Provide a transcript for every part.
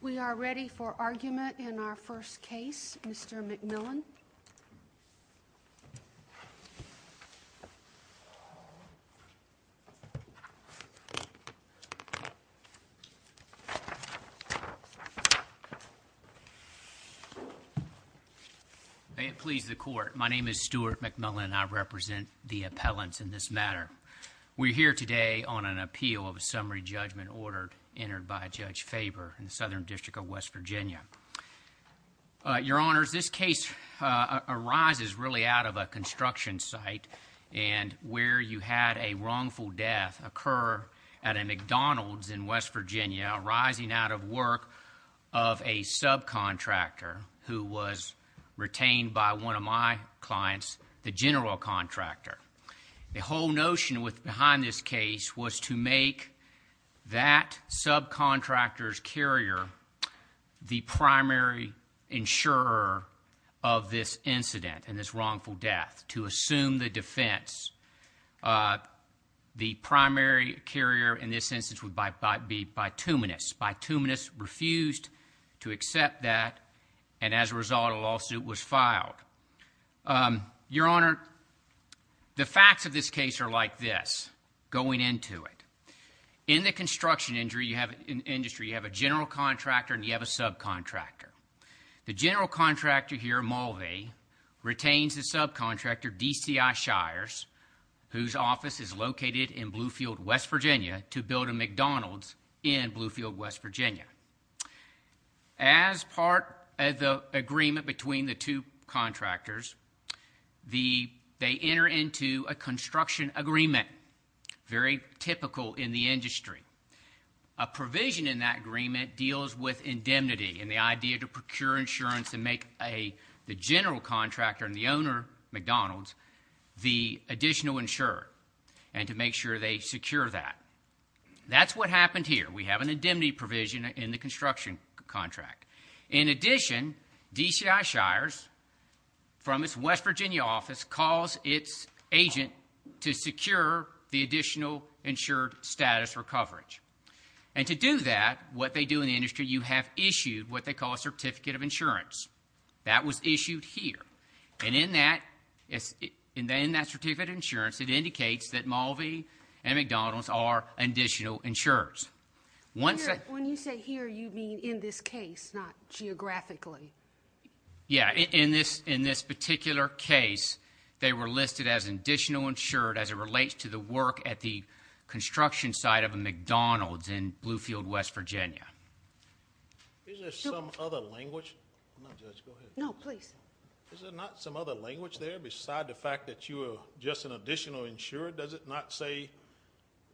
We are ready for argument in our first case. Mr. McMillan. May it please the Court. My name is Stuart McMillan. I represent the appellants in this matter. We're here today on an appeal of a summary judgment ordered, entered by Judge Faber in the Southern District of West Virginia. Your Honors, this case arises really out of a construction site, and where you had a wrongful death occur at a McDonald's in West Virginia, arising out of work of a subcontractor who was retained by one of my clients, the general contractor. The whole notion behind this case was to make that subcontractor's carrier the primary insurer of this incident and this wrongful death, to assume the defense. The primary carrier in this instance would be Bituminous. Bituminous refused to accept that, and as a result, a lawsuit was filed. Your Honor, the facts of this case are like this, going into it. In the construction industry, you have a general contractor and you have a subcontractor. The general contractor here, Mulvey, retains the subcontractor, DCI Shires, whose office is located in Bluefield, West Virginia, to build a McDonald's in Bluefield, West Virginia. As part of the agreement between the two contractors, they enter into a construction agreement, very typical in the industry. A provision in that agreement deals with indemnity and the idea to procure insurance and make the general contractor and the owner, McDonald's, the additional insurer, and to make sure they secure that. That's what happened here. We have an indemnity provision in the construction contract. In addition, DCI Shires, from its West Virginia office, calls its agent to secure the additional insured status for coverage. And to do that, what they do in the industry, you have issued what they call a certificate of insurance. That was issued here. And in that certificate of insurance, it indicates that Mulvey and McDonald's are additional insurers. When you say here, you mean in this case, not geographically. Yeah, in this particular case, they were listed as additional insured as it relates to the work at the construction site of a McDonald's in Bluefield, West Virginia. Isn't there some other language? I'm not a judge. Go ahead. No, please. Is there not some other language there besides the fact that you are just an additional insurer? Does it not say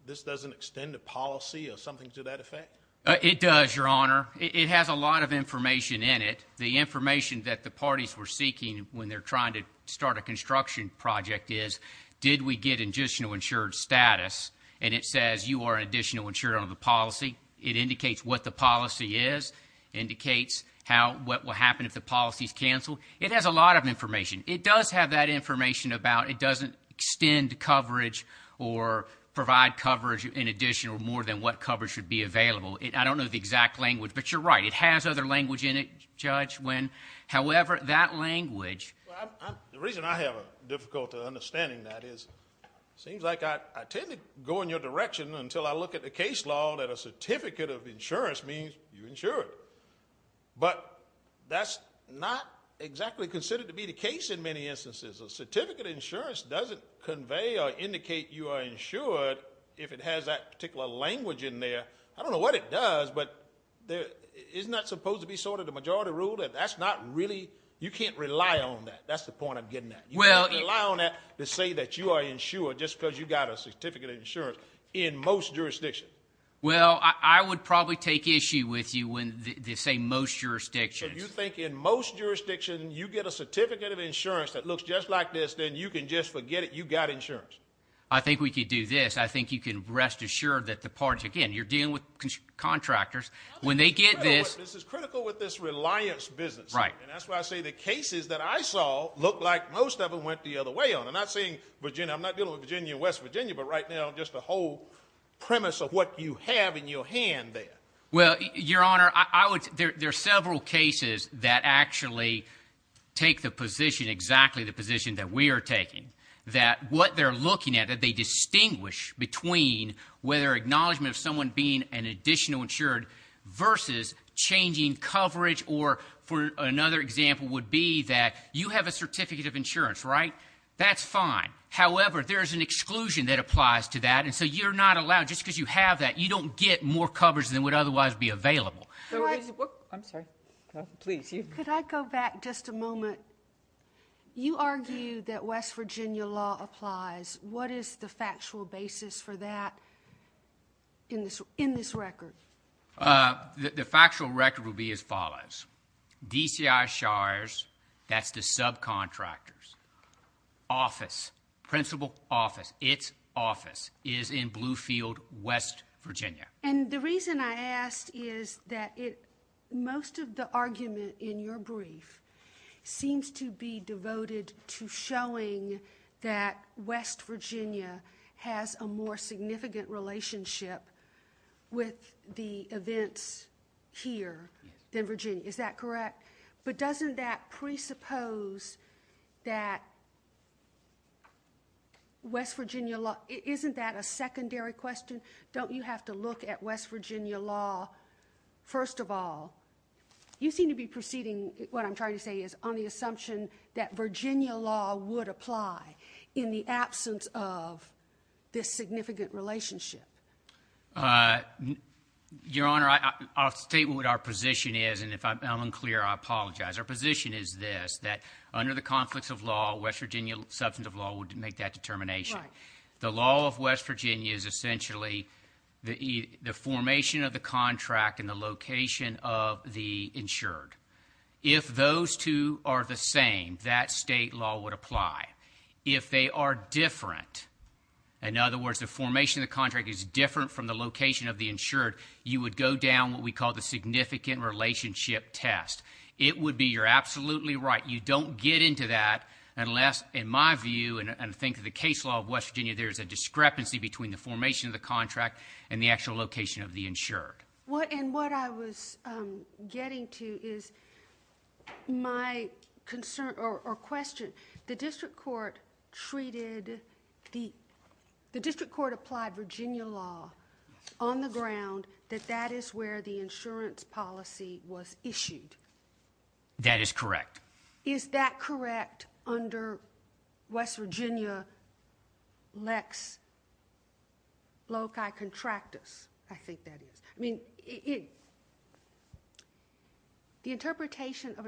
this doesn't extend a policy or something to that effect? It does, Your Honor. It has a lot of information in it. The information that the parties were seeking when they're trying to start a construction project is, did we get additional insured status? And it says you are an additional insurer on the policy. It indicates what the policy is. It indicates what will happen if the policy is canceled. It has a lot of information. It does have that information about it doesn't extend coverage or provide coverage in addition or more than what coverage should be available. I don't know the exact language, but you're right. It has other language in it, Judge, when, however, that language. The reason I have difficulty understanding that is it seems like I tend to go in your direction until I look at the case law that a certificate of insurance means you're insured. But that's not exactly considered to be the case in many instances. A certificate of insurance doesn't convey or indicate you are insured if it has that particular language in there. I don't know what it does, but isn't that supposed to be sort of the majority rule? That's not really, you can't rely on that. That's the point I'm getting at. You can't rely on that to say that you are insured just because you got a certificate of insurance in most jurisdictions. Well, I would probably take issue with you when they say most jurisdictions. So you think in most jurisdictions you get a certificate of insurance that looks just like this, then you can just forget it, you got insurance? I think we could do this. I think you can rest assured that the parties, again, you're dealing with contractors. When they get this. This is critical with this reliance business. And that's why I say the cases that I saw look like most of them went the other way on. I'm not dealing with Virginia and West Virginia, but right now just the whole premise of what you have in your hand there. Well, Your Honor, there are several cases that actually take the position, exactly the position that we are taking, that what they're looking at, that they distinguish between whether acknowledgement of someone being an additional insured versus changing coverage or, for another example, would be that you have a certificate of insurance, right? That's fine. However, there's an exclusion that applies to that. And so you're not allowed, just because you have that, you don't get more coverage than would otherwise be available. I'm sorry. Please. Could I go back just a moment? You argue that West Virginia law applies. What is the factual basis for that in this record? The factual record will be as follows. DCI Shires, that's the subcontractors, office, principal office, its office is in Bluefield, West Virginia. And the reason I asked is that most of the argument in your brief seems to be devoted to showing that West Virginia has a more significant relationship with the events here than Virginia. Is that correct? But doesn't that presuppose that West Virginia law, isn't that a secondary question? Don't you have to look at West Virginia law first of all? You seem to be proceeding, what I'm trying to say is, on the assumption that Virginia law would apply in the absence of this significant relationship. Your Honor, I'll state what our position is, and if I'm unclear, I apologize. Our position is this, that under the conflicts of law, West Virginia substance of law would make that determination. Right. The law of West Virginia is essentially the formation of the contract and the location of the insured. If those two are the same, that state law would apply. If they are different, in other words, the formation of the contract is different from the location of the insured, you would go down what we call the significant relationship test. It would be, you're absolutely right, you don't get into that unless, in my view, and I think the case law of West Virginia, there's a discrepancy between the formation of the contract and the actual location of the insured. And what I was getting to is my concern or question, the district court treated, the district court applied Virginia law on the ground that that is where the insurance policy was issued. That is correct. Is that correct under West Virginia Lex Loci Contractus? I think that is. I mean, the interpretation of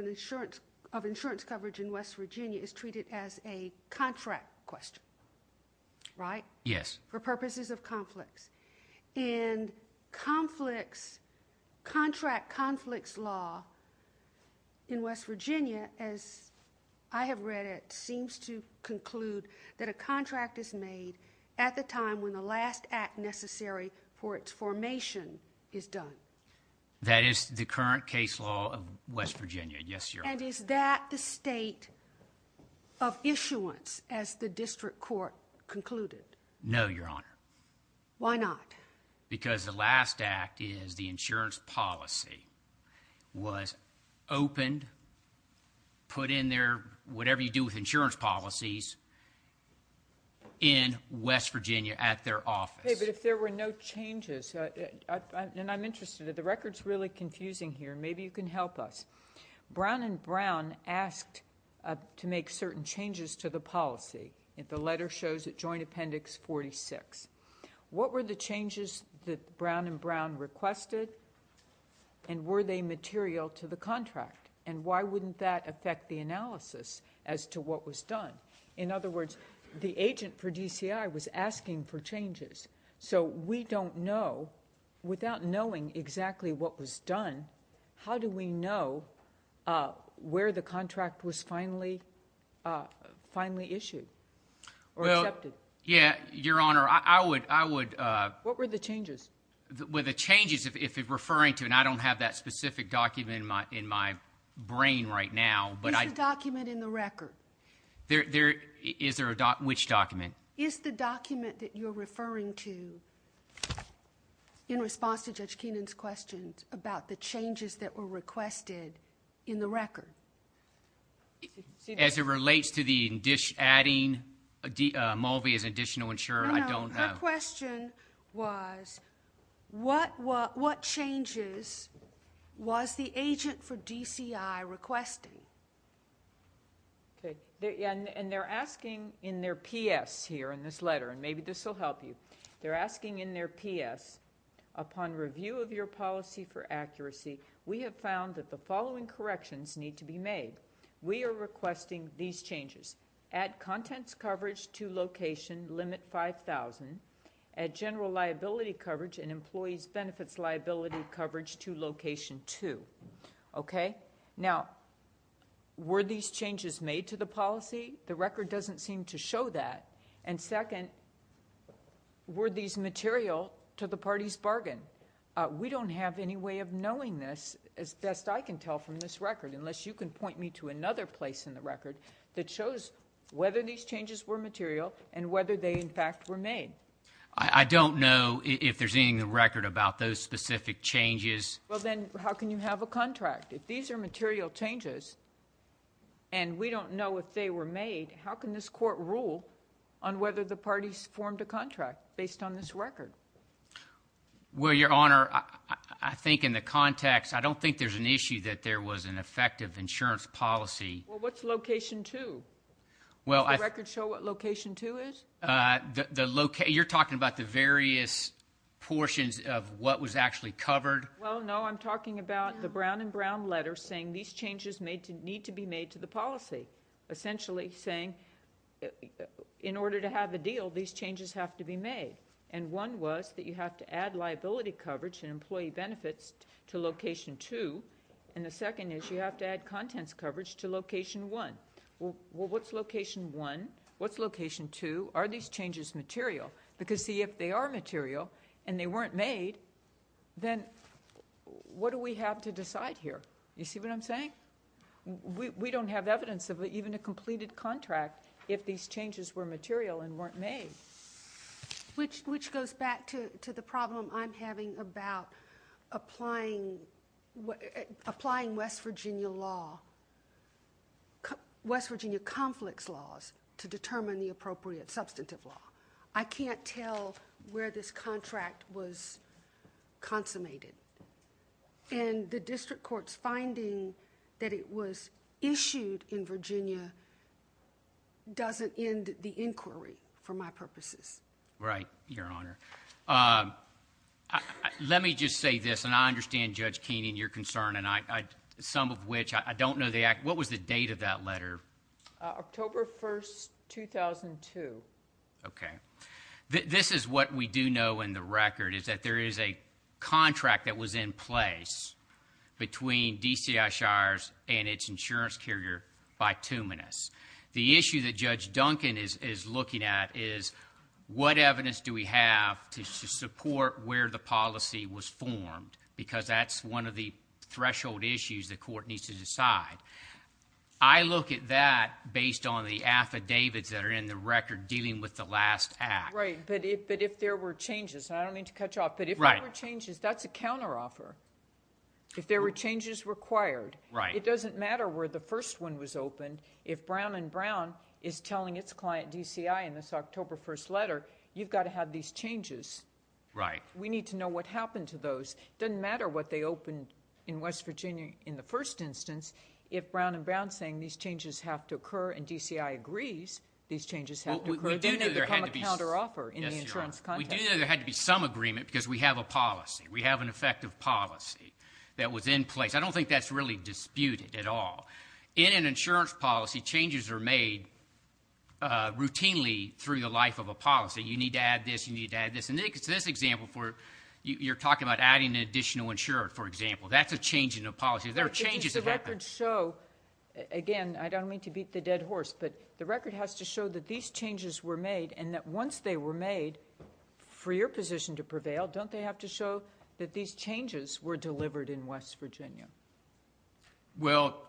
insurance coverage in West Virginia is treated as a contract question, right? Yes. For purposes of conflicts. In conflicts, contract conflicts law in West Virginia, as I have read it, seems to conclude that a contract is made at the time when the last act necessary for its formation is done. That is the current case law of West Virginia. Yes, Your Honor. And is that the state of issuance as the district court concluded? No, Your Honor. Why not? Because the last act is the insurance policy was opened, put in there, whatever you do with insurance policies, in West Virginia at their office. Okay, but if there were no changes, and I'm interested, the record's really confusing here. Maybe you can help us. Brown and Brown asked to make certain changes to the policy. The letter shows it, Joint Appendix 46. What were the changes that Brown and Brown requested, and were they material to the contract? And why wouldn't that affect the analysis as to what was done? In other words, the agent for DCI was asking for changes. So we don't know, without knowing exactly what was done, how do we know where the contract was finally issued or accepted? Yeah, Your Honor, I would. What were the changes? The changes, if you're referring to, and I don't have that specific document in my brain right now. It's a document in the record. Is there a document? Which document? Is the document that you're referring to in response to Judge Keenan's questions about the changes that were requested in the record? As it relates to the adding Mulvey as an additional insurer, I don't have. No, her question was, what changes was the agent for DCI requesting? And they're asking in their PS here in this letter, and maybe this will help you. They're asking in their PS, upon review of your policy for accuracy, we have found that the following corrections need to be made. We are requesting these changes. Add contents coverage to location limit 5,000, add general liability coverage and employees' benefits liability coverage to location 2. Okay? Now, were these changes made to the policy? The record doesn't seem to show that. And second, were these material to the party's bargain? We don't have any way of knowing this, as best I can tell from this record, unless you can point me to another place in the record that shows whether these changes were material and whether they, in fact, were made. I don't know if there's anything in the record about those specific changes. Well, then, how can you have a contract? If these are material changes and we don't know if they were made, how can this court rule on whether the parties formed a contract based on this record? Well, Your Honor, I think in the context, I don't think there's an issue that there was an effective insurance policy. Well, what's location 2? Does the record show what location 2 is? You're talking about the various portions of what was actually covered? Well, no, I'm talking about the brown and brown letters saying these changes need to be made to the policy, essentially saying in order to have a deal, these changes have to be made. And one was that you have to add liability coverage and employee benefits to location 2, and the second is you have to add contents coverage to location 1. Well, what's location 1? What's location 2? Are these changes material? Because, see, if they are material and they weren't made, then what do we have to decide here? You see what I'm saying? We don't have evidence of even a completed contract if these changes were material and weren't made. Which goes back to the problem I'm having about applying West Virginia law, West Virginia conflicts laws to determine the appropriate substantive law. I can't tell where this contract was consummated. And the district court's finding that it was issued in Virginia doesn't end the inquiry for my purposes. Right, Your Honor. Let me just say this, and I understand, Judge Keenan, your concern, some of which I don't know the actual date of that letter. October 1, 2002. Okay. This is what we do know in the record, is that there is a contract that was in place between DCI Shires and its insurance carrier, Bituminous. The issue that Judge Duncan is looking at is what evidence do we have to support where the policy was formed? Because that's one of the threshold issues the court needs to decide. I look at that based on the affidavits that are in the record dealing with the last act. Right. But if there were changes, and I don't mean to cut you off, but if there were changes, that's a counteroffer. If there were changes required, it doesn't matter where the first one was opened. If Brown & Brown is telling its client, DCI, in this October 1st letter, you've got to have these changes. We need to know what happened to those. It doesn't matter what they opened in West Virginia in the first instance. If Brown & Brown is saying these changes have to occur and DCI agrees these changes have to occur, then they become a counteroffer in the insurance context. We do know there had to be some agreement because we have a policy. We have an effective policy that was in place. I don't think that's really disputed at all. In an insurance policy, changes are made routinely through the life of a policy. You need to add this. You need to add this. In this example, you're talking about adding an additional insurer, for example. That's a change in a policy. There are changes in the record. The records show, again, I don't mean to beat the dead horse, but the record has to show that these changes were made and that once they were made, for your position to prevail, don't they have to show that these changes were delivered in West Virginia? Well,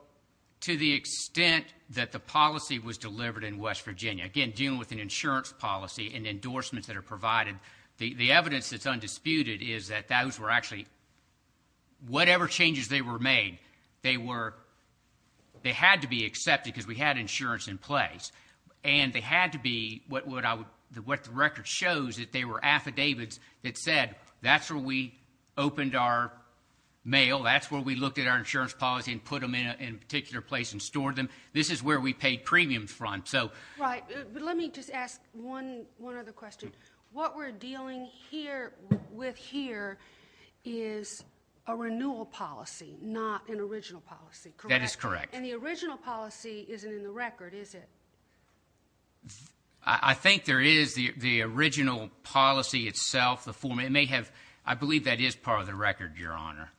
to the extent that the policy was delivered in West Virginia, again, dealing with an insurance policy and endorsements that are provided, the evidence that's undisputed is that those were actually whatever changes they were made, they had to be accepted because we had insurance in place, and they had to be what the record shows, that they were affidavits that said that's where we opened our mail, that's where we looked at our insurance policy and put them in a particular place and stored them. This is where we paid premiums from. Right, but let me just ask one other question. What we're dealing with here is a renewal policy, not an original policy, correct? That is correct. And the original policy isn't in the record, is it? I think there is the original policy itself. I believe that is part of the record, Your Honor.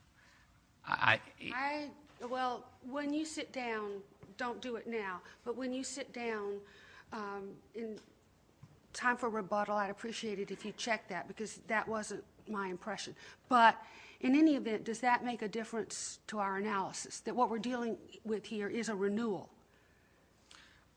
Well, when you sit down, don't do it now, but when you sit down in time for rebuttal, I'd appreciate it if you checked that, because that wasn't my impression. But in any event, does that make a difference to our analysis, that what we're dealing with here is a renewal?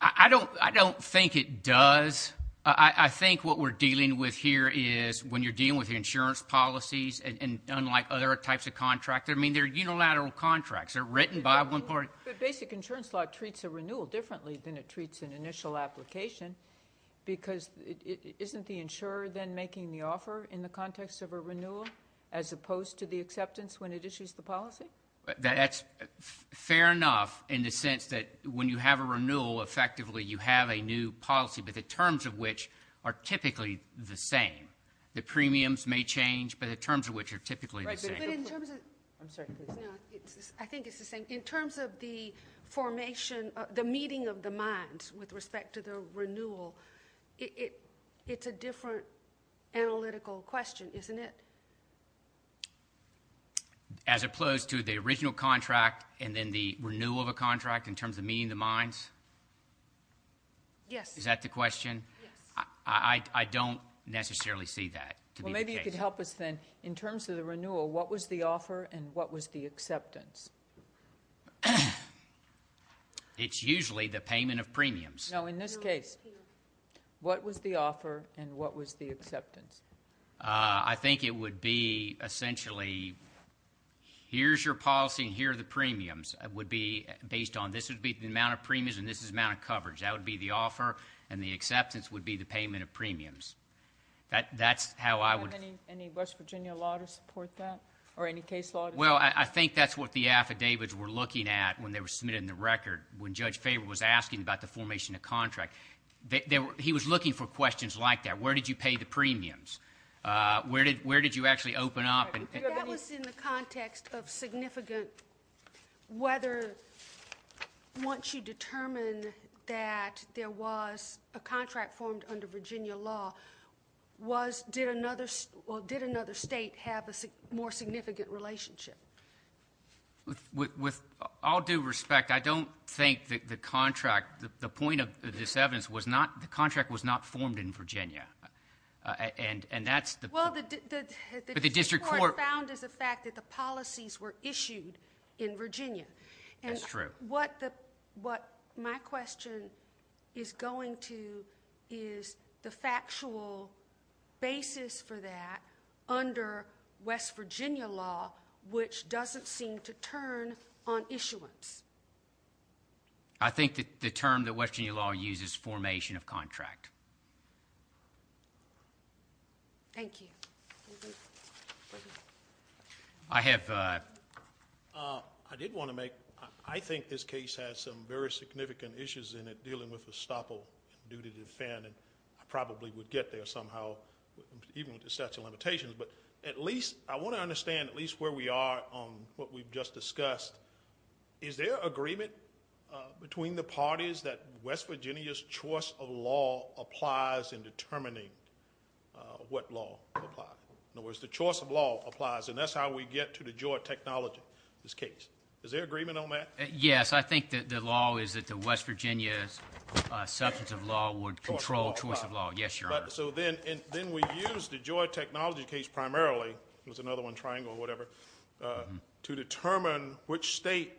I don't think it does. I think what we're dealing with here is when you're dealing with the insurance policies, and unlike other types of contracts, I mean, they're unilateral contracts. They're written by one party. But basic insurance law treats a renewal differently than it treats an initial application, because isn't the insurer then making the offer in the context of a renewal as opposed to the acceptance when it issues the policy? That's fair enough in the sense that when you have a renewal, effectively you have a new policy, but the terms of which are typically the same. The premiums may change, but the terms of which are typically the same. I'm sorry. I think it's the same. In terms of the formation, the meeting of the minds with respect to the renewal, it's a different analytical question, isn't it? As opposed to the original contract and then the renewal of a contract in terms of meeting the minds? Yes. Is that the question? Yes. I don't necessarily see that to be the case. In terms of the renewal, what was the offer and what was the acceptance? It's usually the payment of premiums. No, in this case, what was the offer and what was the acceptance? I think it would be essentially here's your policy and here are the premiums. It would be based on this would be the amount of premiums and this is the amount of coverage. That would be the offer, and the acceptance would be the payment of premiums. Do you have any West Virginia law to support that or any case law? Well, I think that's what the affidavits were looking at when they were submitted in the record when Judge Faber was asking about the formation of contract. He was looking for questions like that. Where did you pay the premiums? Where did you actually open up? That was in the context of significant whether once you determine that there was a contract formed under Virginia law, did another state have a more significant relationship? With all due respect, I don't think the contract, the point of this evidence, the contract was not formed in Virginia. Well, the district court found as a fact that the policies were issued in Virginia. That's true. What my question is going to is the factual basis for that under West Virginia law, which doesn't seem to turn on issuance. I think that the term that West Virginia law uses is formation of contract. Thank you. I did want to make, I think this case has some very significant issues in it dealing with estoppel due to defend and I probably would get there somehow even with the statute of limitations, but I want to understand at least where we are on what we've just discussed. Is there agreement between the parties that West Virginia's choice of law applies in determining what law applies? In other words, the choice of law applies and that's how we get to the Georgia technology, this case. Is there agreement on that? Yes, I think that the law is that the West Virginia's substance of law would control choice of law. Yes, Your Honor. Then we use the Georgia technology case primarily, it was another one triangle or whatever, to determine which state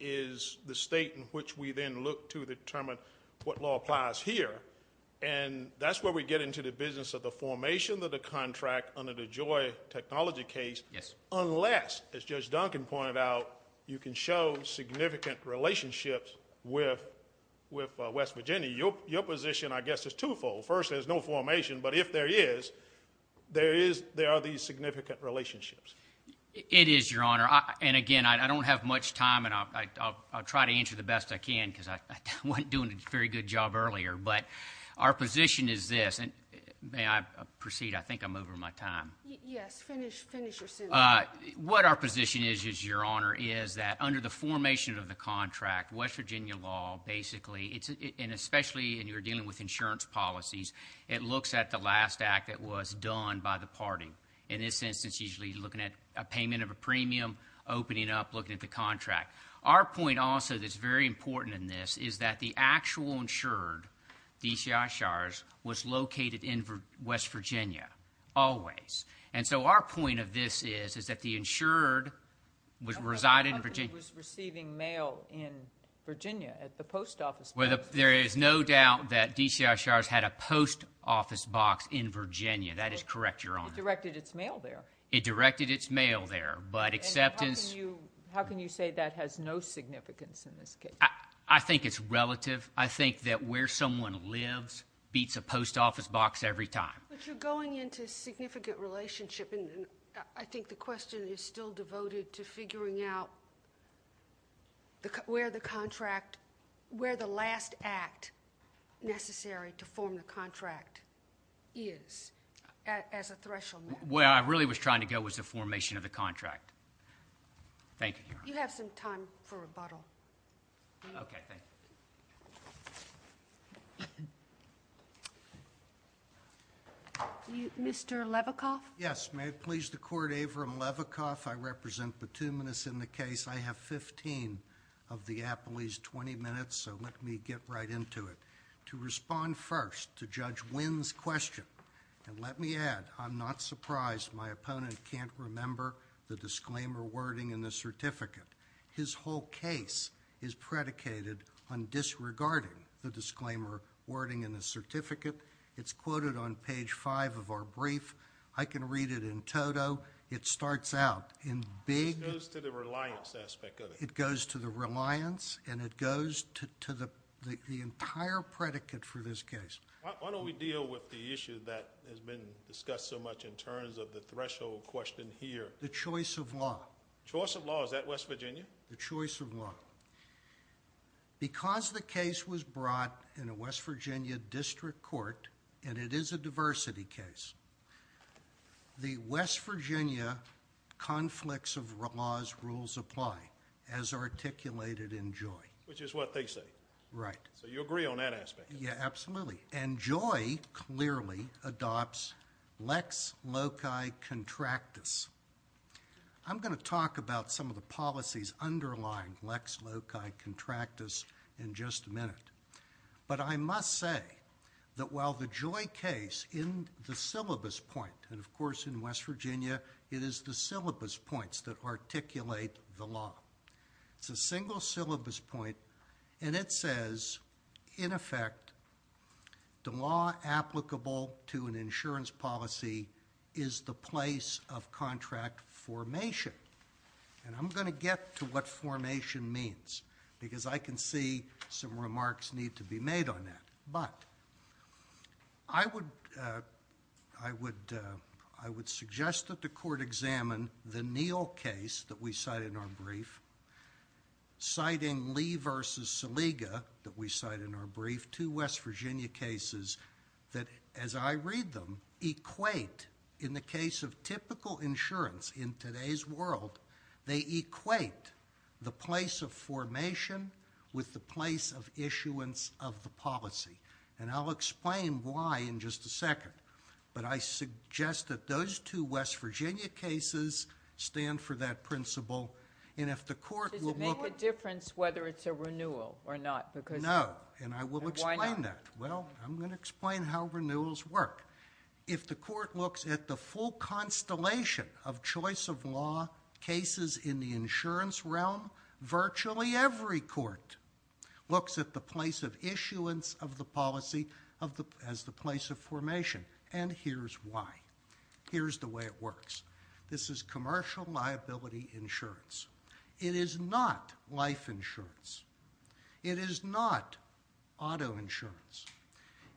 is the state in which we then look to determine what law applies here and that's where we get into the business of the formation of the contract under the Georgia technology case unless, as Judge Duncan pointed out, you can show significant relationships with West Virginia. Your position, I guess, is twofold. First, there's no formation, but if there is, there are these significant relationships. It is, Your Honor, and again, I don't have much time and I'll try to answer the best I can because I wasn't doing a very good job earlier, but our position is this, and may I proceed? I think I'm over my time. Yes, finish your sentence. What our position is, Your Honor, is that under the formation of the contract, West Virginia law basically, and especially when you're dealing with insurance policies, it looks at the last act that was done by the party. In this instance, usually looking at a payment of a premium, opening up, looking at the contract. Our point also that's very important in this is that the actual insured, DCI Shars, was located in West Virginia always. And so our point of this is that the insured resided in Virginia. The company was receiving mail in Virginia at the post office. There is no doubt that DCI Shars had a post office box in Virginia. That is correct, Your Honor. It directed its mail there. It directed its mail there, but acceptance. How can you say that has no significance in this case? I think it's relative. I think that where someone lives beats a post office box every time. But you're going into significant relationship, and I think the question is still devoted to figuring out where the contract, where the last act necessary to form the contract is as a threshold. Where I really was trying to go was the formation of the contract. Thank you, Your Honor. You have some time for rebuttal. Okay, thank you. Mr. Levikoff? Yes, may it please the Court, Avram Levikoff. I represent Petunias in the case. I have 15 of the appellee's 20 minutes, so let me get right into it. To respond first to Judge Wynn's question, and let me add, I'm not surprised my opponent can't remember the disclaimer wording in the certificate. His whole case is predicated on disregarding the disclaimer wording in the certificate. It's quoted on page 5 of our brief. I can read it in toto. It starts out in big... It goes to the reliance aspect of it. It goes to the reliance, and it goes to the entire predicate for this case. Why don't we deal with the issue that has been discussed so much in terms of the threshold question here? The choice of law. The choice of law. Is that West Virginia? The choice of law. Because the case was brought in a West Virginia district court, and it is a diversity case, the West Virginia conflicts of laws rules apply, as articulated in Joy. Which is what they say. Right. So you agree on that aspect? Yeah, absolutely. And Joy clearly adopts lex loci contractus. I'm going to talk about some of the policies underlying lex loci contractus in just a minute. But I must say that while the Joy case in the syllabus point, and of course in West Virginia, it is the syllabus points that articulate the law. It's a single syllabus point, and it says, in effect, the law applicable to an insurance policy is the place of contract formation. And I'm going to get to what formation means. Because I can see some remarks need to be made on that. But I would suggest that the court examine the Neal case that we cite in our brief, citing Lee versus Saliga that we cite in our brief, two West Virginia cases that, as I read them, equate in the case of typical insurance in today's world, they equate the place of formation with the place of issuance of the policy. And I'll explain why in just a second. But I suggest that those two West Virginia cases stand for that principle. Does it make a difference whether it's a renewal or not? No, and I will explain that. Well, I'm going to explain how renewals work. If the court looks at the full constellation of choice of law cases in the insurance realm, virtually every court looks at the place of issuance of the policy as the place of formation. And here's why. Here's the way it works. This is commercial liability insurance. It is not life insurance. It is not auto insurance.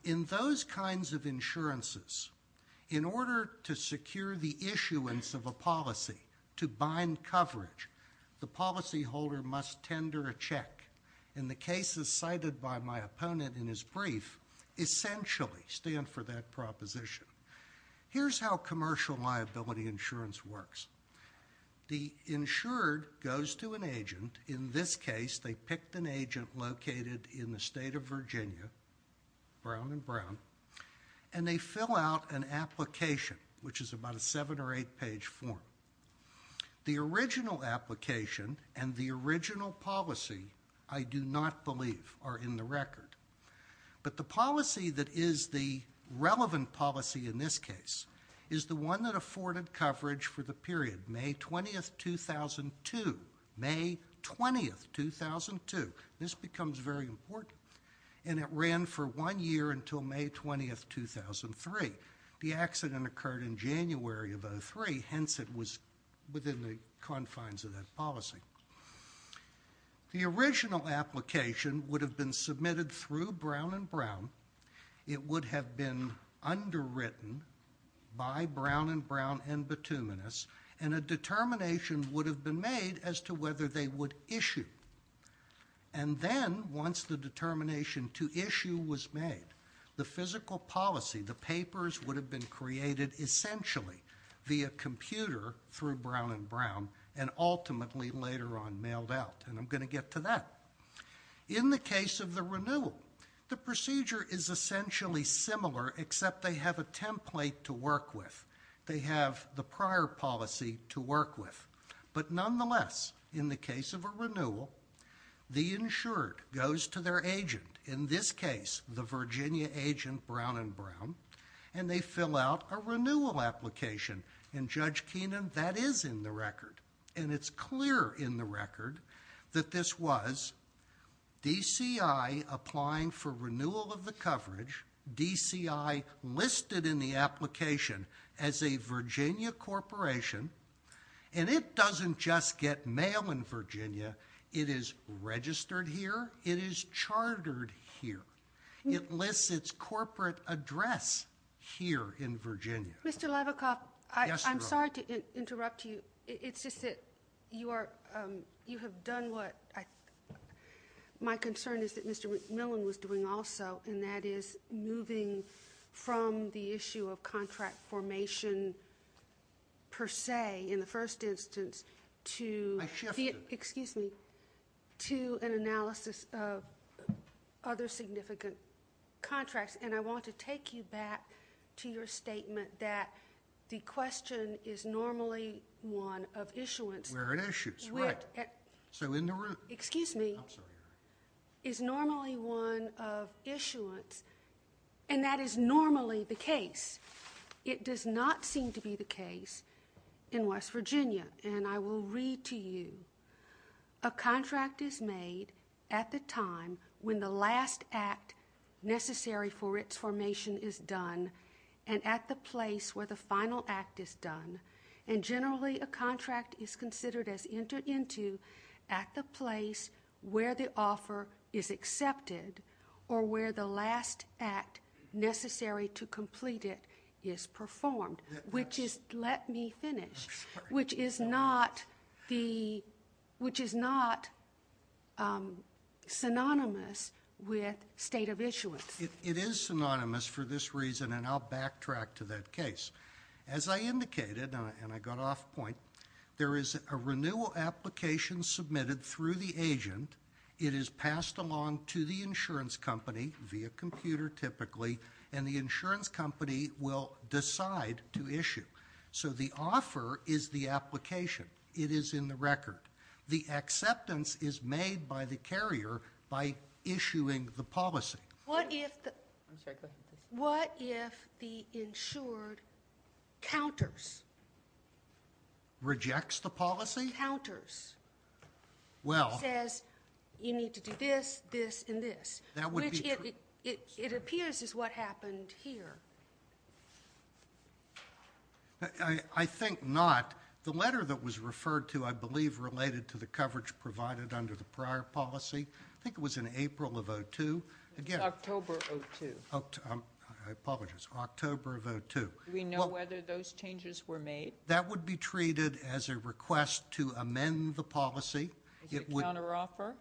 In those kinds of insurances, in order to secure the issuance of a policy to bind coverage, the policyholder must tender a check. And the cases cited by my opponent in his brief essentially stand for that proposition. Here's how commercial liability insurance works. The insured goes to an agent. In this case, they picked an agent located in the state of Virginia, brown and brown, and they fill out an application, which is about a seven- or eight-page form. The original application and the original policy, I do not believe, are in the record. But the policy that is the relevant policy in this case is the one that afforded coverage for the period May 20, 2002, May 20, 2002. This becomes very important. And it ran for one year until May 20, 2003. The accident occurred in January of 2003, hence it was within the confines of that policy. The original application would have been submitted through brown and brown. It would have been underwritten by brown and brown and bituminous. And a determination would have been made as to whether they would issue. And then once the determination to issue was made, the physical policy, the papers would have been created essentially via computer through brown and brown, and ultimately later on mailed out. And I'm going to get to that. In the case of the renewal, the procedure is essentially similar, except they have a template to work with. They have the prior policy to work with. But nonetheless, in the case of a renewal, the insured goes to their agent, in this case the Virginia agent brown and brown, and they fill out a renewal application. And Judge Keenan, that is in the record. And it's clear in the record that this was DCI applying for renewal of the coverage, DCI listed in the application as a Virginia corporation. And it doesn't just get mail in Virginia. It is registered here. It is chartered here. It lists its corporate address here in Virginia. Mr. Lavikoff, I'm sorry to interrupt you. It's just that you have done what my concern is that Mr. McMillan was doing also, and that is moving from the issue of contract formation per se in the first instance to an analysis of other significant contracts. And I want to take you back to your statement that the question is normally one of issuance. Where it issues, right. So interrupt. Is normally one of issuance, and that is normally the case. It does not seem to be the case in West Virginia. And I will read to you. A contract is made at the time when the last act necessary for its formation is done and at the place where the final act is done. And generally a contract is considered as entered into at the place where the offer is accepted or where the last act necessary to complete it is performed, which is, let me finish, which is not synonymous with state of issuance. It is synonymous for this reason, and I'll backtrack to that case. As I indicated, and I got off point, there is a renewal application submitted through the agent. It is passed along to the insurance company via computer typically, and the insurance company will decide to issue. So the offer is the application. It is in the record. The acceptance is made by the carrier by issuing the policy. What if the insured counters? Rejects the policy? Counters. It says you need to do this, this, and this, which it appears is what happened here. I think not. The letter that was referred to I believe related to the coverage provided under the prior policy, I think it was in April of 02. October of 02. I apologize. October of 02. Do we know whether those changes were made? That would be treated as a request to amend the policy. Is it counteroffer?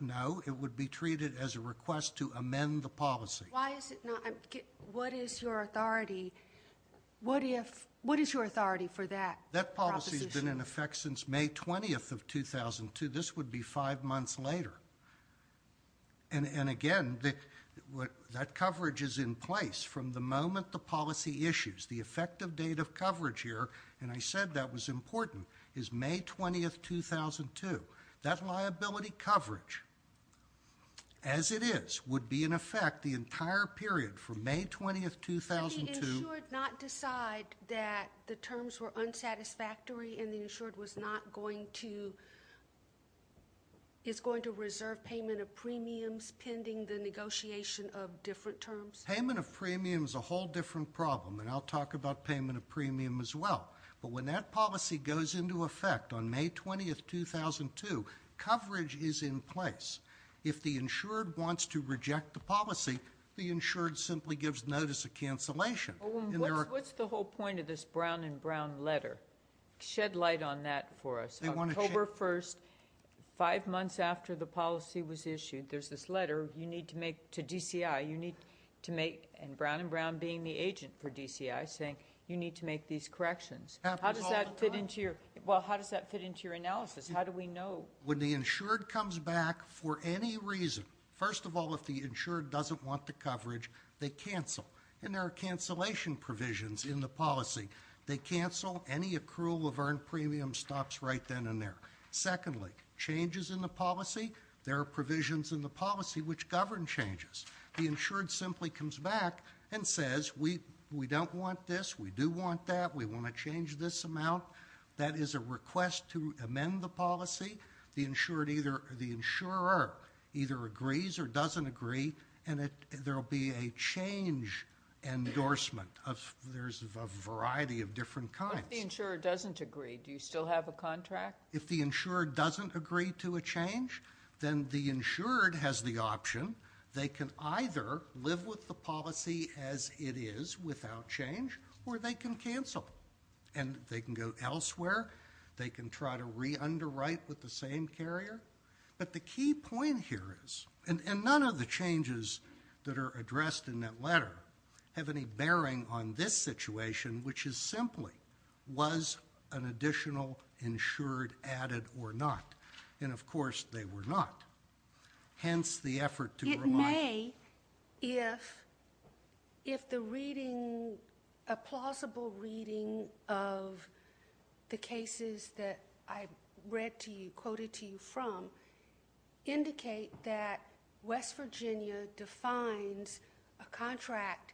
No. It would be treated as a request to amend the policy. Why is it not? What is your authority? What is your authority for that proposition? That policy has been in effect since May 20th of 2002. This would be five months later. And, again, that coverage is in place from the moment the policy issues. The effective date of coverage here, and I said that was important, is May 20th, 2002. That liability coverage, as it is, would be in effect the entire period from May 20th, 2002. Did the insured not decide that the terms were unsatisfactory and the insured is going to reserve payment of premiums pending the negotiation of different terms? Payment of premiums is a whole different problem, and I'll talk about payment of premium as well. But when that policy goes into effect on May 20th, 2002, coverage is in place. If the insured wants to reject the policy, the insured simply gives notice of cancellation. What's the whole point of this Brown and Brown letter? Shed light on that for us. October 1st, five months after the policy was issued, there's this letter to DCI, and Brown and Brown being the agent for DCI, saying you need to make these corrections. How does that fit into your analysis? How do we know? Well, when the insured comes back for any reason, first of all, if the insured doesn't want the coverage, they cancel. And there are cancellation provisions in the policy. They cancel, any accrual of earned premiums stops right then and there. Secondly, changes in the policy, there are provisions in the policy which govern changes. The insured simply comes back and says we don't want this, we do want that, we want to change this amount. That is a request to amend the policy. The insured either, the insurer either agrees or doesn't agree, and there will be a change endorsement. There's a variety of different kinds. If the insurer doesn't agree, do you still have a contract? If the insurer doesn't agree to a change, then the insured has the option. They can either live with the policy as it is without change, or they can cancel. And they can go elsewhere. They can try to re-underwrite with the same carrier. But the key point here is, and none of the changes that are addressed in that letter have any bearing on this situation, which is simply was an additional insured added or not? And, of course, they were not. Hence, the effort to remind you. It may, if the reading, a plausible reading of the cases that I read to you, quoted to you from, indicate that West Virginia defines a contract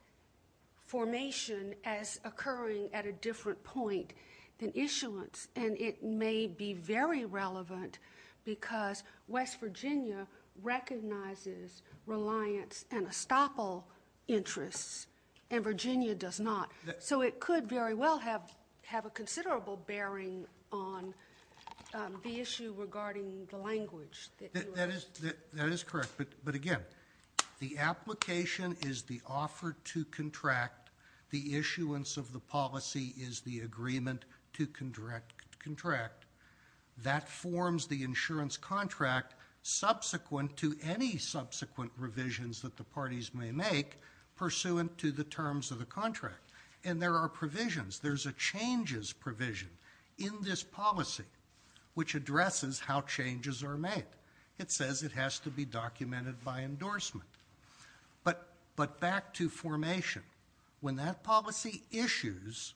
formation as occurring at a different point than issuance. And it may be very relevant because West Virginia recognizes reliance and estoppel interests, and Virginia does not. So it could very well have a considerable bearing on the issue regarding the language. That is correct. But, again, the application is the offer to contract. The issuance of the policy is the agreement to contract. That forms the insurance contract subsequent to any subsequent revisions that the parties may make pursuant to the terms of the contract. And there are provisions. There's a changes provision in this policy which addresses how changes are made. It says it has to be documented by endorsement. But back to formation. When that policy issues,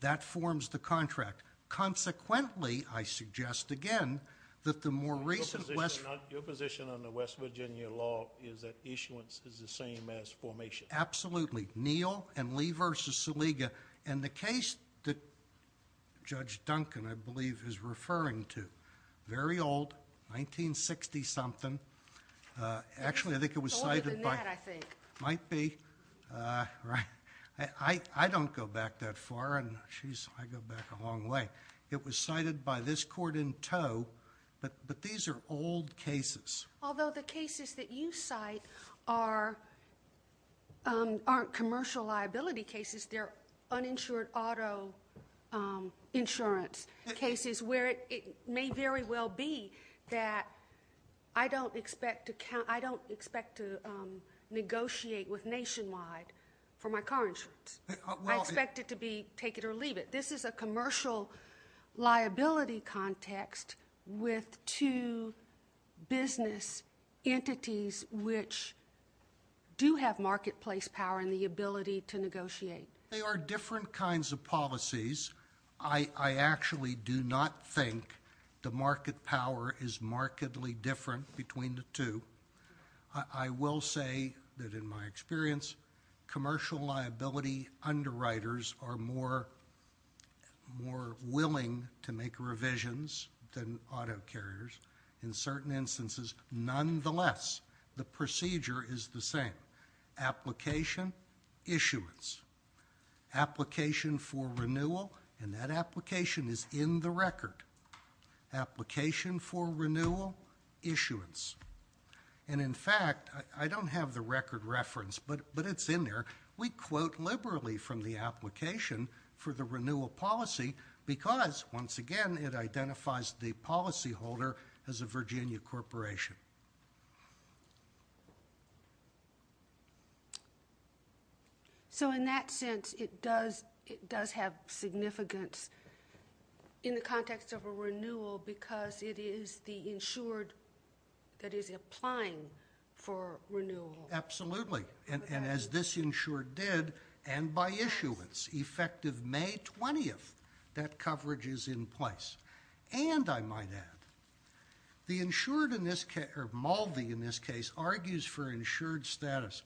that forms the contract. Consequently, I suggest, again, that the more recent- Your position on the West Virginia law is that issuance is the same as formation. Absolutely. Neal and Lee v. Saliga. And the case that Judge Duncan, I believe, is referring to, very old, 1960-something. Actually, I think it was cited by- It's older than that, I think. It might be. I don't go back that far. I go back a long way. It was cited by this court in tow. But these are old cases. Although the cases that you cite aren't commercial liability cases. They're uninsured auto insurance cases where it may very well be that I don't expect to negotiate with Nationwide for my car insurance. I expect it to be take it or leave it. But this is a commercial liability context with two business entities which do have marketplace power and the ability to negotiate. They are different kinds of policies. I actually do not think the market power is markedly different between the two. I will say that in my experience, commercial liability underwriters are more willing to make revisions than auto carriers. In certain instances, nonetheless, the procedure is the same. Application, issuance. Application for renewal, and that application is in the record. Application for renewal, issuance. And in fact, I don't have the record reference, but it's in there. We quote liberally from the application for the renewal policy because, once again, it identifies the policy holder as a Virginia corporation. So in that sense, it does have significance in the context of a renewal because it is the insured that is applying for renewal. Absolutely. And as this insured did, and by issuance, effective May 20th, that coverage is in place. And I might add, the insured in this case, or Maldy in this case, argues for insured status,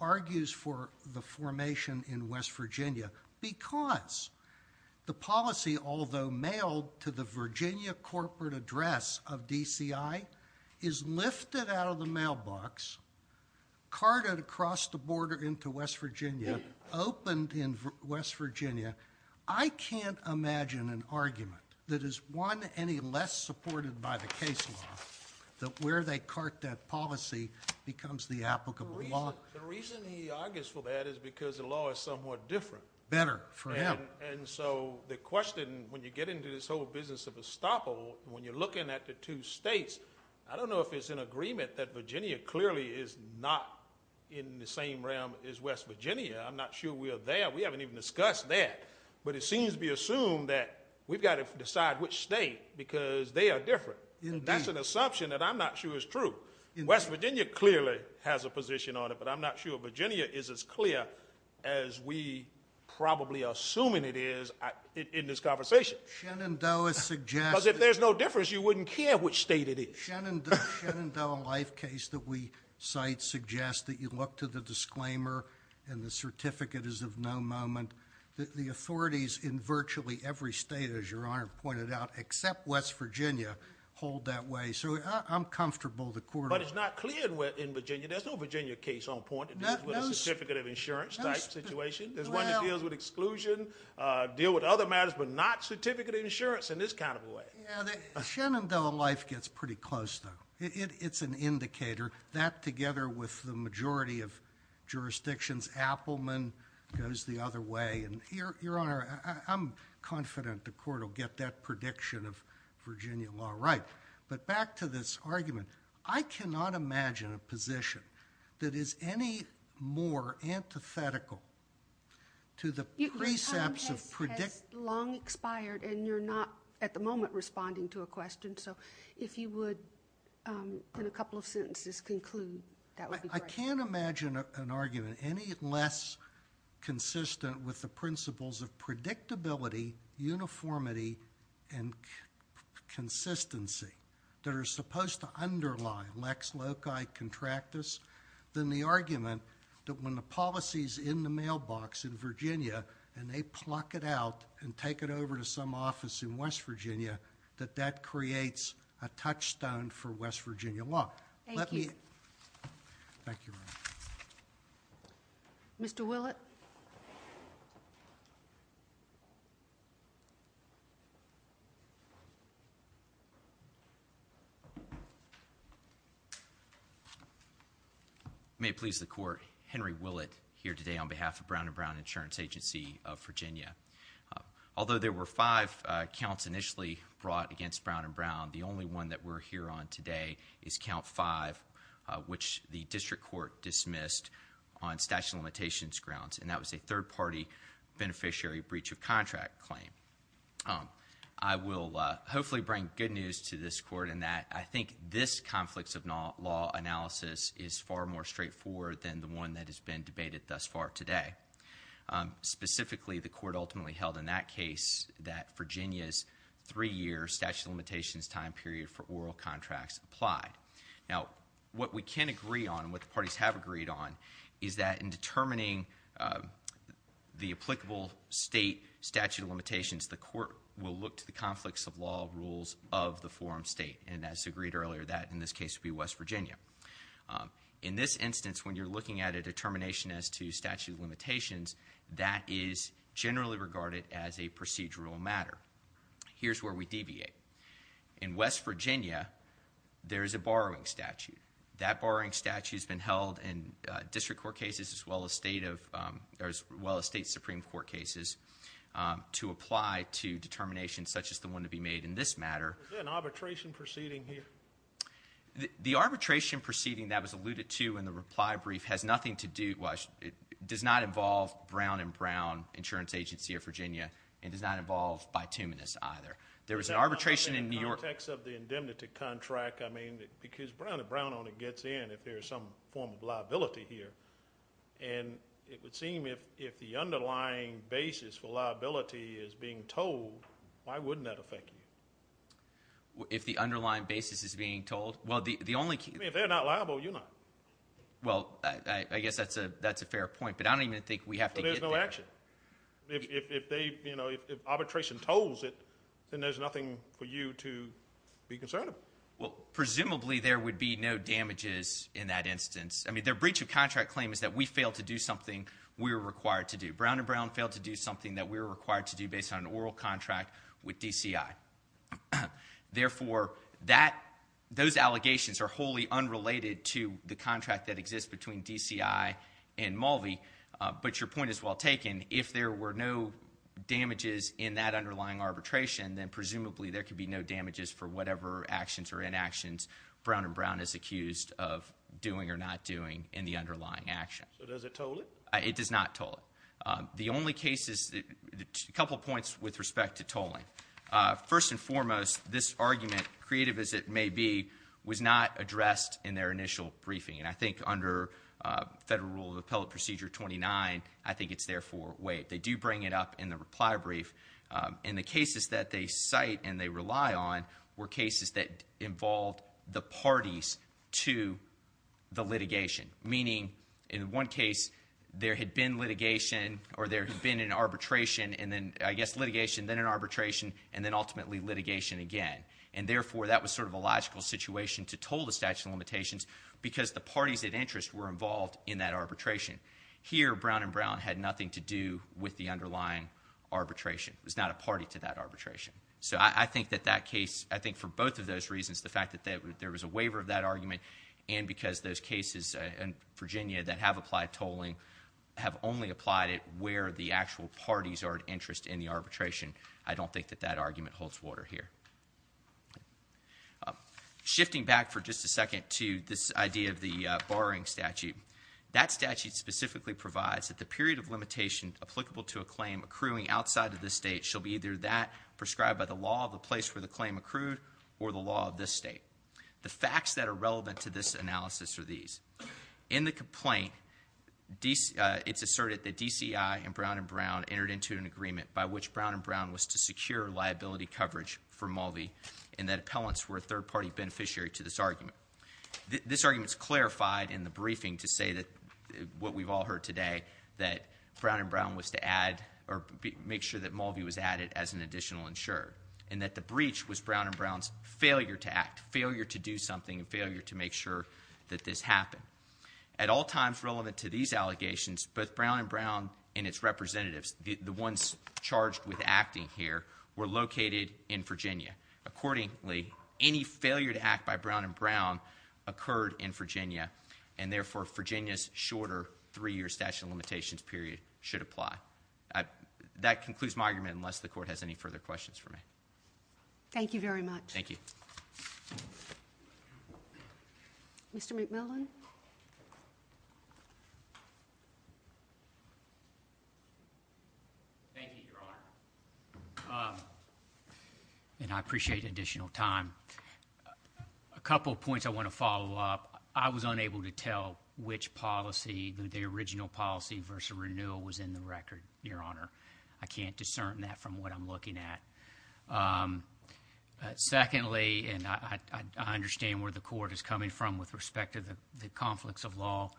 argues for the formation in West Virginia because the policy, although mailed to the Virginia corporate address of DCI, is lifted out of the mailbox, carted across the border into West Virginia, opened in West Virginia. I can't imagine an argument that is one any less supported by the case law that where they cart that policy becomes the applicable law. The reason he argues for that is because the law is somewhat different. Better for him. And so the question, when you get into this whole business of estoppel, when you're looking at the two states, I don't know if it's an agreement that Virginia clearly is not in the same realm as West Virginia. I'm not sure we're there. We haven't even discussed that. But it seems to be assumed that we've got to decide which state because they are different. Indeed. And that's an assumption that I'm not sure is true. West Virginia clearly has a position on it, but I'm not sure Virginia is as clear as we probably are assuming it is in this conversation. Shenandoah suggests that- Because if there's no difference, you wouldn't care which state it is. The Shenandoah Life case that we cite suggests that you look to the disclaimer and the certificate is of no moment. The authorities in virtually every state, as Your Honor pointed out, except West Virginia, hold that way. So I'm comfortable the court- But it's not clear in Virginia. There's no Virginia case on point that deals with a certificate of insurance type situation. There's one that deals with exclusion, deal with other matters, but not certificate of insurance in this kind of a way. Shenandoah Life gets pretty close, though. It's an indicator. That, together with the majority of jurisdictions, Appleman, goes the other way. Your Honor, I'm confident the court will get that prediction of Virginia law right. But back to this argument. I cannot imagine a position that is any more antithetical to the precepts of- Your time has long expired, and you're not, at the moment, responding to a question. So if you would, in a couple of sentences, conclude, that would be great. I can't imagine an argument any less consistent with the principles of predictability, uniformity, and consistency that are supposed to underline lex loci contractus than the argument that when the policy's in the mailbox in Virginia, and they pluck it out and take it over to some office in West Virginia, that that creates a touchstone for West Virginia law. Thank you. Thank you, Your Honor. Mr. Willett? May it please the court, Henry Willett here today on behalf of Brown and Brown Insurance Agency of Virginia. Although there were five counts initially brought against Brown and Brown, the only one that we're here on today is count five, which the district court dismissed on statute of limitations grounds. And that was a third-party beneficiary breach of contract claim. I will hopefully bring good news to this court in that I think this conflicts of law analysis is far more straightforward than the one that has been debated thus far today. Specifically, the court ultimately held in that case that Virginia's three-year statute of limitations time period for oral contracts applied. Now, what we can agree on, what the parties have agreed on, is that in determining the applicable state statute of limitations, the court will look to the conflicts of law rules of the forum state. And as agreed earlier, that in this case would be West Virginia. In this instance, when you're looking at a determination as to statute of limitations, that is generally regarded as a procedural matter. Here's where we deviate. In West Virginia, there is a borrowing statute. That borrowing statute has been held in district court cases as well as state of, as well as state supreme court cases to apply to determinations such as the one to be made in this matter. Is there an arbitration proceeding here? The arbitration proceeding that was alluded to in the reply brief has nothing to do, does not involve Brown and Brown Insurance Agency of Virginia, and does not involve Bituminous either. There was an arbitration in New York. In the context of the indemnity contract, I mean, because Brown and Brown only gets in if there's some form of liability here. And it would seem if the underlying basis for liability is being told, why wouldn't that affect you? If the underlying basis is being told? Well, the only key- I mean, if they're not liable, you're not. Well, I guess that's a fair point, but I don't even think we have to get there. There's no action. If they, you know, if arbitration told it, then there's nothing for you to be concerned about. Well, presumably there would be no damages in that instance. I mean, their breach of contract claim is that we failed to do something we were required to do. Brown and Brown failed to do something that we were required to do based on an oral contract with DCI. Therefore, those allegations are wholly unrelated to the contract that exists between DCI and Mulvey. But your point is well taken. If there were no damages in that underlying arbitration, then presumably there could be no damages for whatever actions or inactions Brown and Brown is accused of doing or not doing in the underlying action. So does it toll it? It does not toll it. The only cases- a couple points with respect to tolling. First and foremost, this argument, creative as it may be, was not addressed in their initial briefing. And I think under Federal Rule of Appellate Procedure 29, I think it's therefore waived. They do bring it up in the reply brief. And the cases that they cite and they rely on were cases that involved the parties to the litigation. Meaning, in one case, there had been litigation or there had been an arbitration and then, I guess, litigation, then an arbitration, and then ultimately litigation again. And therefore, that was sort of a logical situation to toll the statute of limitations because the parties of interest were involved in that arbitration. Here, Brown and Brown had nothing to do with the underlying arbitration. It was not a party to that arbitration. So I think that that case, I think for both of those reasons, the fact that there was a waiver of that argument and because those cases in Virginia that have applied tolling have only applied it where the actual parties are of interest in the arbitration, I don't think that that argument holds water here. Shifting back for just a second to this idea of the borrowing statute, that statute specifically provides that the period of limitation applicable to a claim accruing outside of this state shall be either that prescribed by the law of the place where the claim accrued or the law of this state. The facts that are relevant to this analysis are these. In the complaint, it's asserted that DCI and Brown and Brown entered into an agreement by which Brown and Brown was to secure liability coverage for Mulvey and that appellants were a third-party beneficiary to this argument. This argument is clarified in the briefing to say that what we've all heard today, that Brown and Brown was to add or make sure that Mulvey was added as an additional insurer and that the breach was Brown and Brown's failure to act, failure to do something, and failure to make sure that this happened. At all times relevant to these allegations, both Brown and Brown and its representatives, the ones charged with acting here, were located in Virginia. Accordingly, any failure to act by Brown and Brown occurred in Virginia and therefore Virginia's shorter three-year statute of limitations period should apply. That concludes my argument unless the Court has any further questions for me. Thank you very much. Thank you. Mr. McMillan. Thank you, Your Honor. And I appreciate additional time. A couple of points I want to follow up. I was unable to tell which policy, the original policy versus renewal, was in the record, Your Honor. I can't discern that from what I'm looking at. Secondly, and I understand where the Court is coming from with respect to the conflicts of law,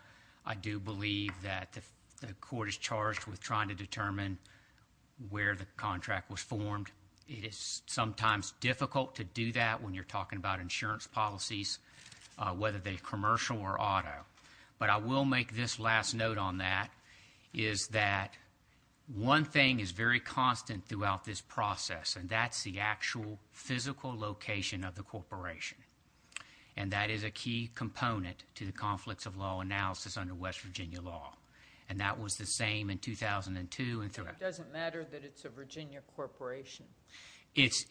I do believe that the Court is charged with trying to determine where the contract was formed. It is sometimes difficult to do that when you're talking about insurance policies, whether they're commercial or auto. But I will make this last note on that, is that one thing is very constant throughout this process, and that's the actual physical location of the corporation. And that is a key component to the conflicts of law analysis under West Virginia law. And that was the same in 2002 and throughout. It doesn't matter that it's a Virginia corporation. It's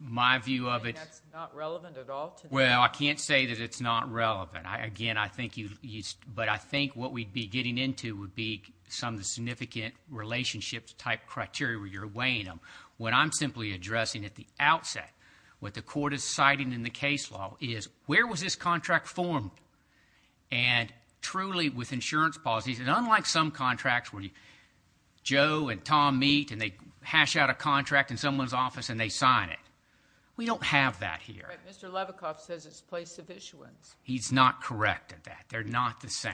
my view of it. That's not relevant at all? Well, I can't say that it's not relevant. Again, but I think what we'd be getting into would be some of the significant relationships type criteria where you're weighing them. What I'm simply addressing at the outset, what the Court is citing in the case law, is where was this contract formed? And truly with insurance policies, and unlike some contracts where Joe and Tom meet and they hash out a contract in someone's office and they sign it. We don't have that here. Mr. Levikoff says it's place of issuance. He's not correct at that. They're not the same.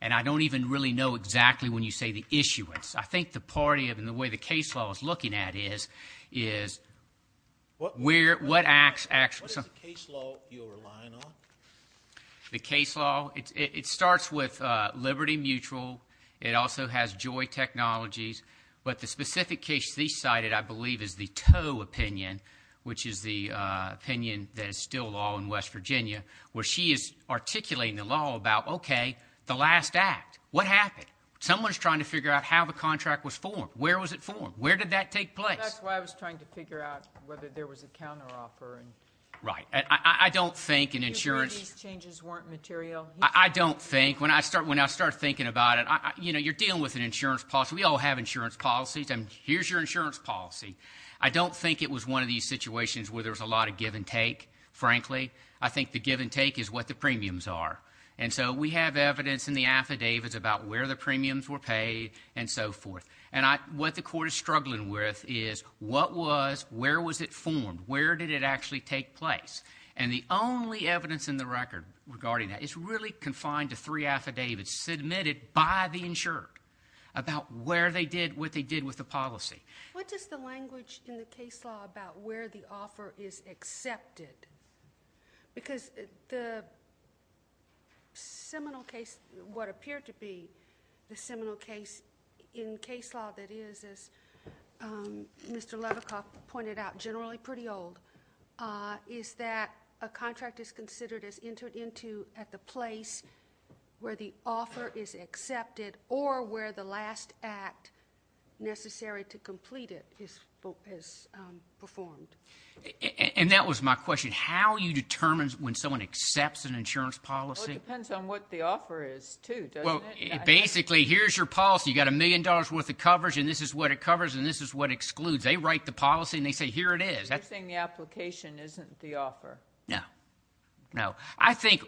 And I don't even really know exactly when you say the issuance. I think the party and the way the case law is looking at it is what acts actually. What is the case law you're relying on? The case law, it starts with Liberty Mutual. It also has Joy Technologies. But the specific case she cited, I believe, is the Toe opinion, which is the opinion that is still law in West Virginia, where she is articulating the law about, okay, the last act. What happened? Someone's trying to figure out how the contract was formed. Where was it formed? Where did that take place? That's why I was trying to figure out whether there was a counteroffer. Right. I don't think an insurance. You believe these changes weren't material? I don't think. When I start thinking about it, you're dealing with an insurance policy. We all have insurance policies. Here's your insurance policy. I don't think it was one of these situations where there was a lot of give and take, frankly. I think the give and take is what the premiums are. And so we have evidence in the affidavits about where the premiums were paid and so forth. And what the court is struggling with is what was, where was it formed? Where did it actually take place? And the only evidence in the record regarding that is really confined to three affidavits submitted by the insured about where they did what they did with the policy. What is the language in the case law about where the offer is accepted? Because the seminal case, what appeared to be the seminal case in case law that is, as Mr. Levekoff pointed out, generally pretty old, is that a contract is considered as entered into at the place where the offer is accepted or where the last act necessary to complete it is performed. And that was my question. How you determine when someone accepts an insurance policy? Well, it depends on what the offer is, too, doesn't it? Well, basically, here's your policy. You've got a million dollars' worth of coverage, and this is what it covers, and this is what excludes. They write the policy, and they say, here it is. You're saying the application isn't the offer. No. No. I think,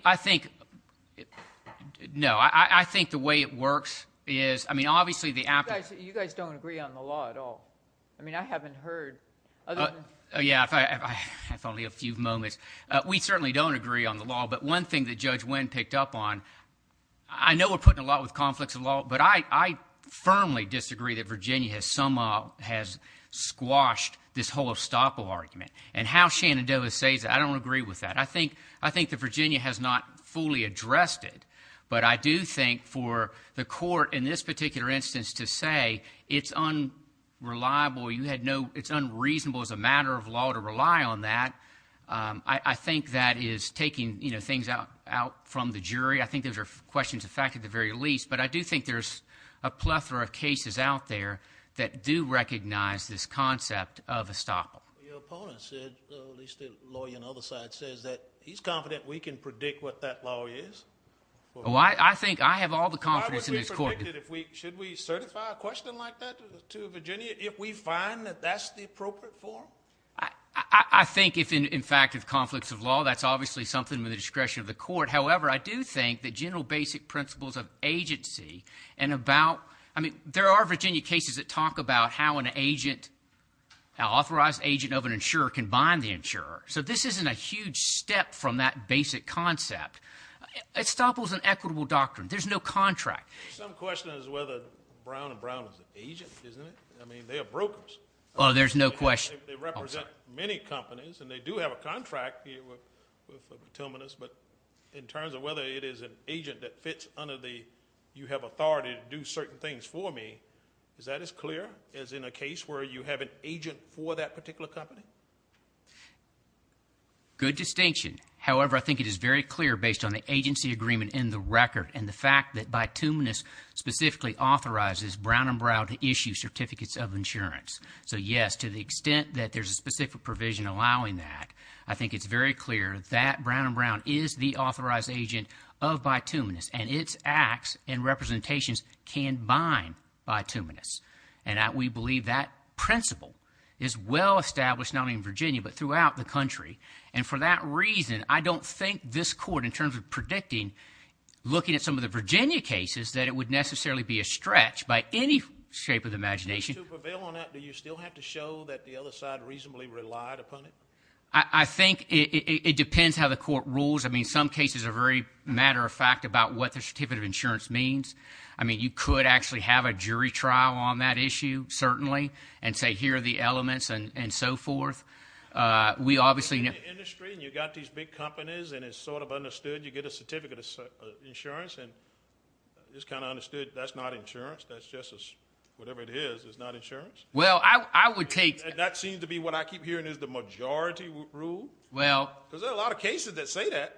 no, I think the way it works is, I mean, obviously the application. You guys don't agree on the law at all. I mean, I haven't heard. Yeah, if only a few moments. We certainly don't agree on the law, but one thing that Judge Wynn picked up on, I know we're putting a lot with conflicts of law, but I firmly disagree that Virginia somehow has squashed this whole estoppel argument. And how Shenandoah says it, I don't agree with that. I think that Virginia has not fully addressed it, but I do think for the court in this particular instance to say it's unreliable, it's unreasonable as a matter of law to rely on that, I think that is taking things out from the jury. I think those are questions of fact at the very least, but I do think there's a plethora of cases out there that do recognize this concept of estoppel. Your opponent said, at least the lawyer on the other side, says that he's confident we can predict what that law is. I think I have all the confidence in this court. Why would we predict it? Should we certify a question like that to Virginia if we find that that's the appropriate form? I think if, in fact, it's conflicts of law, that's obviously something at the discretion of the court. However, I do think that general basic principles of agency and about, I mean, there are Virginia cases that talk about how an authorized agent of an insurer can bind the insurer. So this isn't a huge step from that basic concept. Estoppel is an equitable doctrine. There's no contract. Some question is whether Brown and Brown is an agent, isn't it? I mean, they are brokers. Oh, there's no question. They represent many companies, and they do have a contract with the terminus, but in terms of whether it is an agent that fits under the you have authority to do certain things for me, is that as clear as in a case where you have an agent for that particular company? Good distinction. However, I think it is very clear based on the agency agreement in the record and the fact that bituminous specifically authorizes Brown and Brown to issue certificates of insurance. So, yes, to the extent that there's a specific provision allowing that, I think it's very clear that Brown and Brown is the authorized agent of bituminous, and its acts and representations can bind bituminous. And we believe that principle is well established not only in Virginia but throughout the country. And for that reason, I don't think this court, in terms of predicting, looking at some of the Virginia cases, that it would necessarily be a stretch by any shape of the imagination. To prevail on that, do you still have to show that the other side reasonably relied upon it? I think it depends how the court rules. I mean, some cases are very matter-of-fact about what the certificate of insurance means. I mean, you could actually have a jury trial on that issue, certainly, and say here are the elements and so forth. In the industry, you've got these big companies, and it's sort of understood you get a certificate of insurance, and it's kind of understood that's not insurance, that's just whatever it is, it's not insurance. And that seems to be what I keep hearing is the majority rule? Because there are a lot of cases that say that.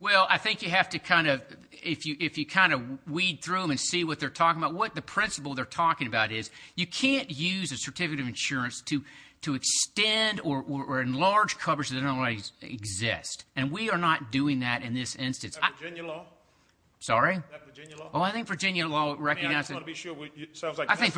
Well, I think you have to kind of, if you kind of weed through them and see what they're talking about, what the principle they're talking about is you can't use a certificate of insurance to extend or enlarge coverage that doesn't already exist. And we are not doing that in this instance. Is that Virginia law? Sorry? Is that Virginia law? I think Virginia law recognizes that. I think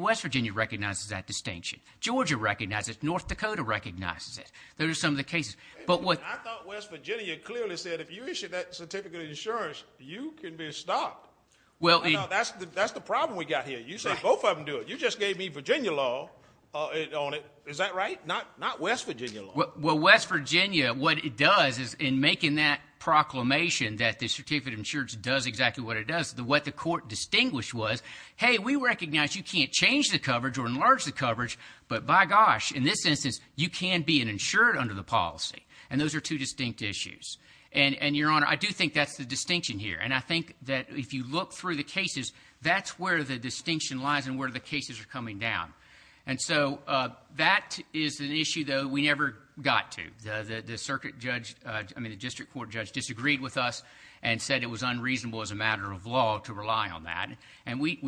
West Virginia recognizes that distinction. Georgia recognizes it. North Dakota recognizes it. Those are some of the cases. I thought West Virginia clearly said if you issue that certificate of insurance, you can be stopped. That's the problem we've got here. You say both of them do it. You just gave me Virginia law on it. Is that right? Not West Virginia law. Well, West Virginia, what it does is in making that proclamation that the certificate of insurance does exactly what it does, what the court distinguished was, hey, we recognize you can't change the coverage or enlarge the coverage, but by gosh, in this instance, you can be insured under the policy. And those are two distinct issues. And, Your Honor, I do think that's the distinction here. And I think that if you look through the cases, that's where the distinction lies and where the cases are coming down. And so that is an issue, though, we never got to. The circuit judge, I mean the district court judge, disagreed with us and said it was unreasonable as a matter of law to rely on that. And we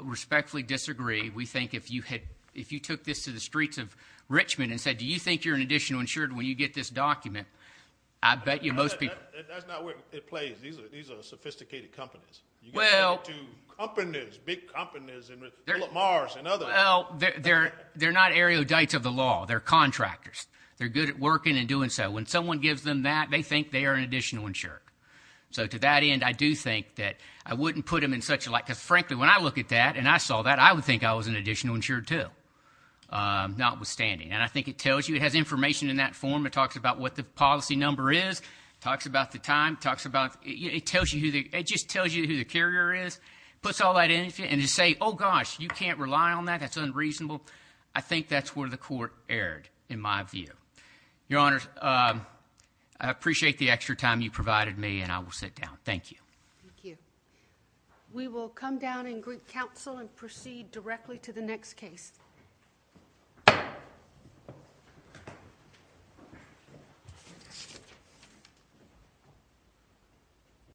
respectfully disagree. We think if you took this to the streets of Richmond and said, do you think you're an additional insured when you get this document, I bet you most people. That's not where it plays. These are sophisticated companies. You can get into companies, big companies, and Mars and others. Well, they're not erudites of the law. They're contractors. They're good at working and doing so. When someone gives them that, they think they are an additional insured. So to that end, I do think that I wouldn't put them in such a light. Because, frankly, when I look at that and I saw that, I would think I was an additional insured too, notwithstanding. And I think it tells you. It has information in that form. It talks about what the policy number is. It talks about the time. It talks about – it tells you who the – it just tells you who the carrier is. It puts all that in. And to say, oh, gosh, you can't rely on that, that's unreasonable, I think that's where the court erred in my view. Your Honor, I appreciate the extra time you provided me, and I will sit down. Thank you. Thank you. We will come down in group counsel and proceed directly to the next case.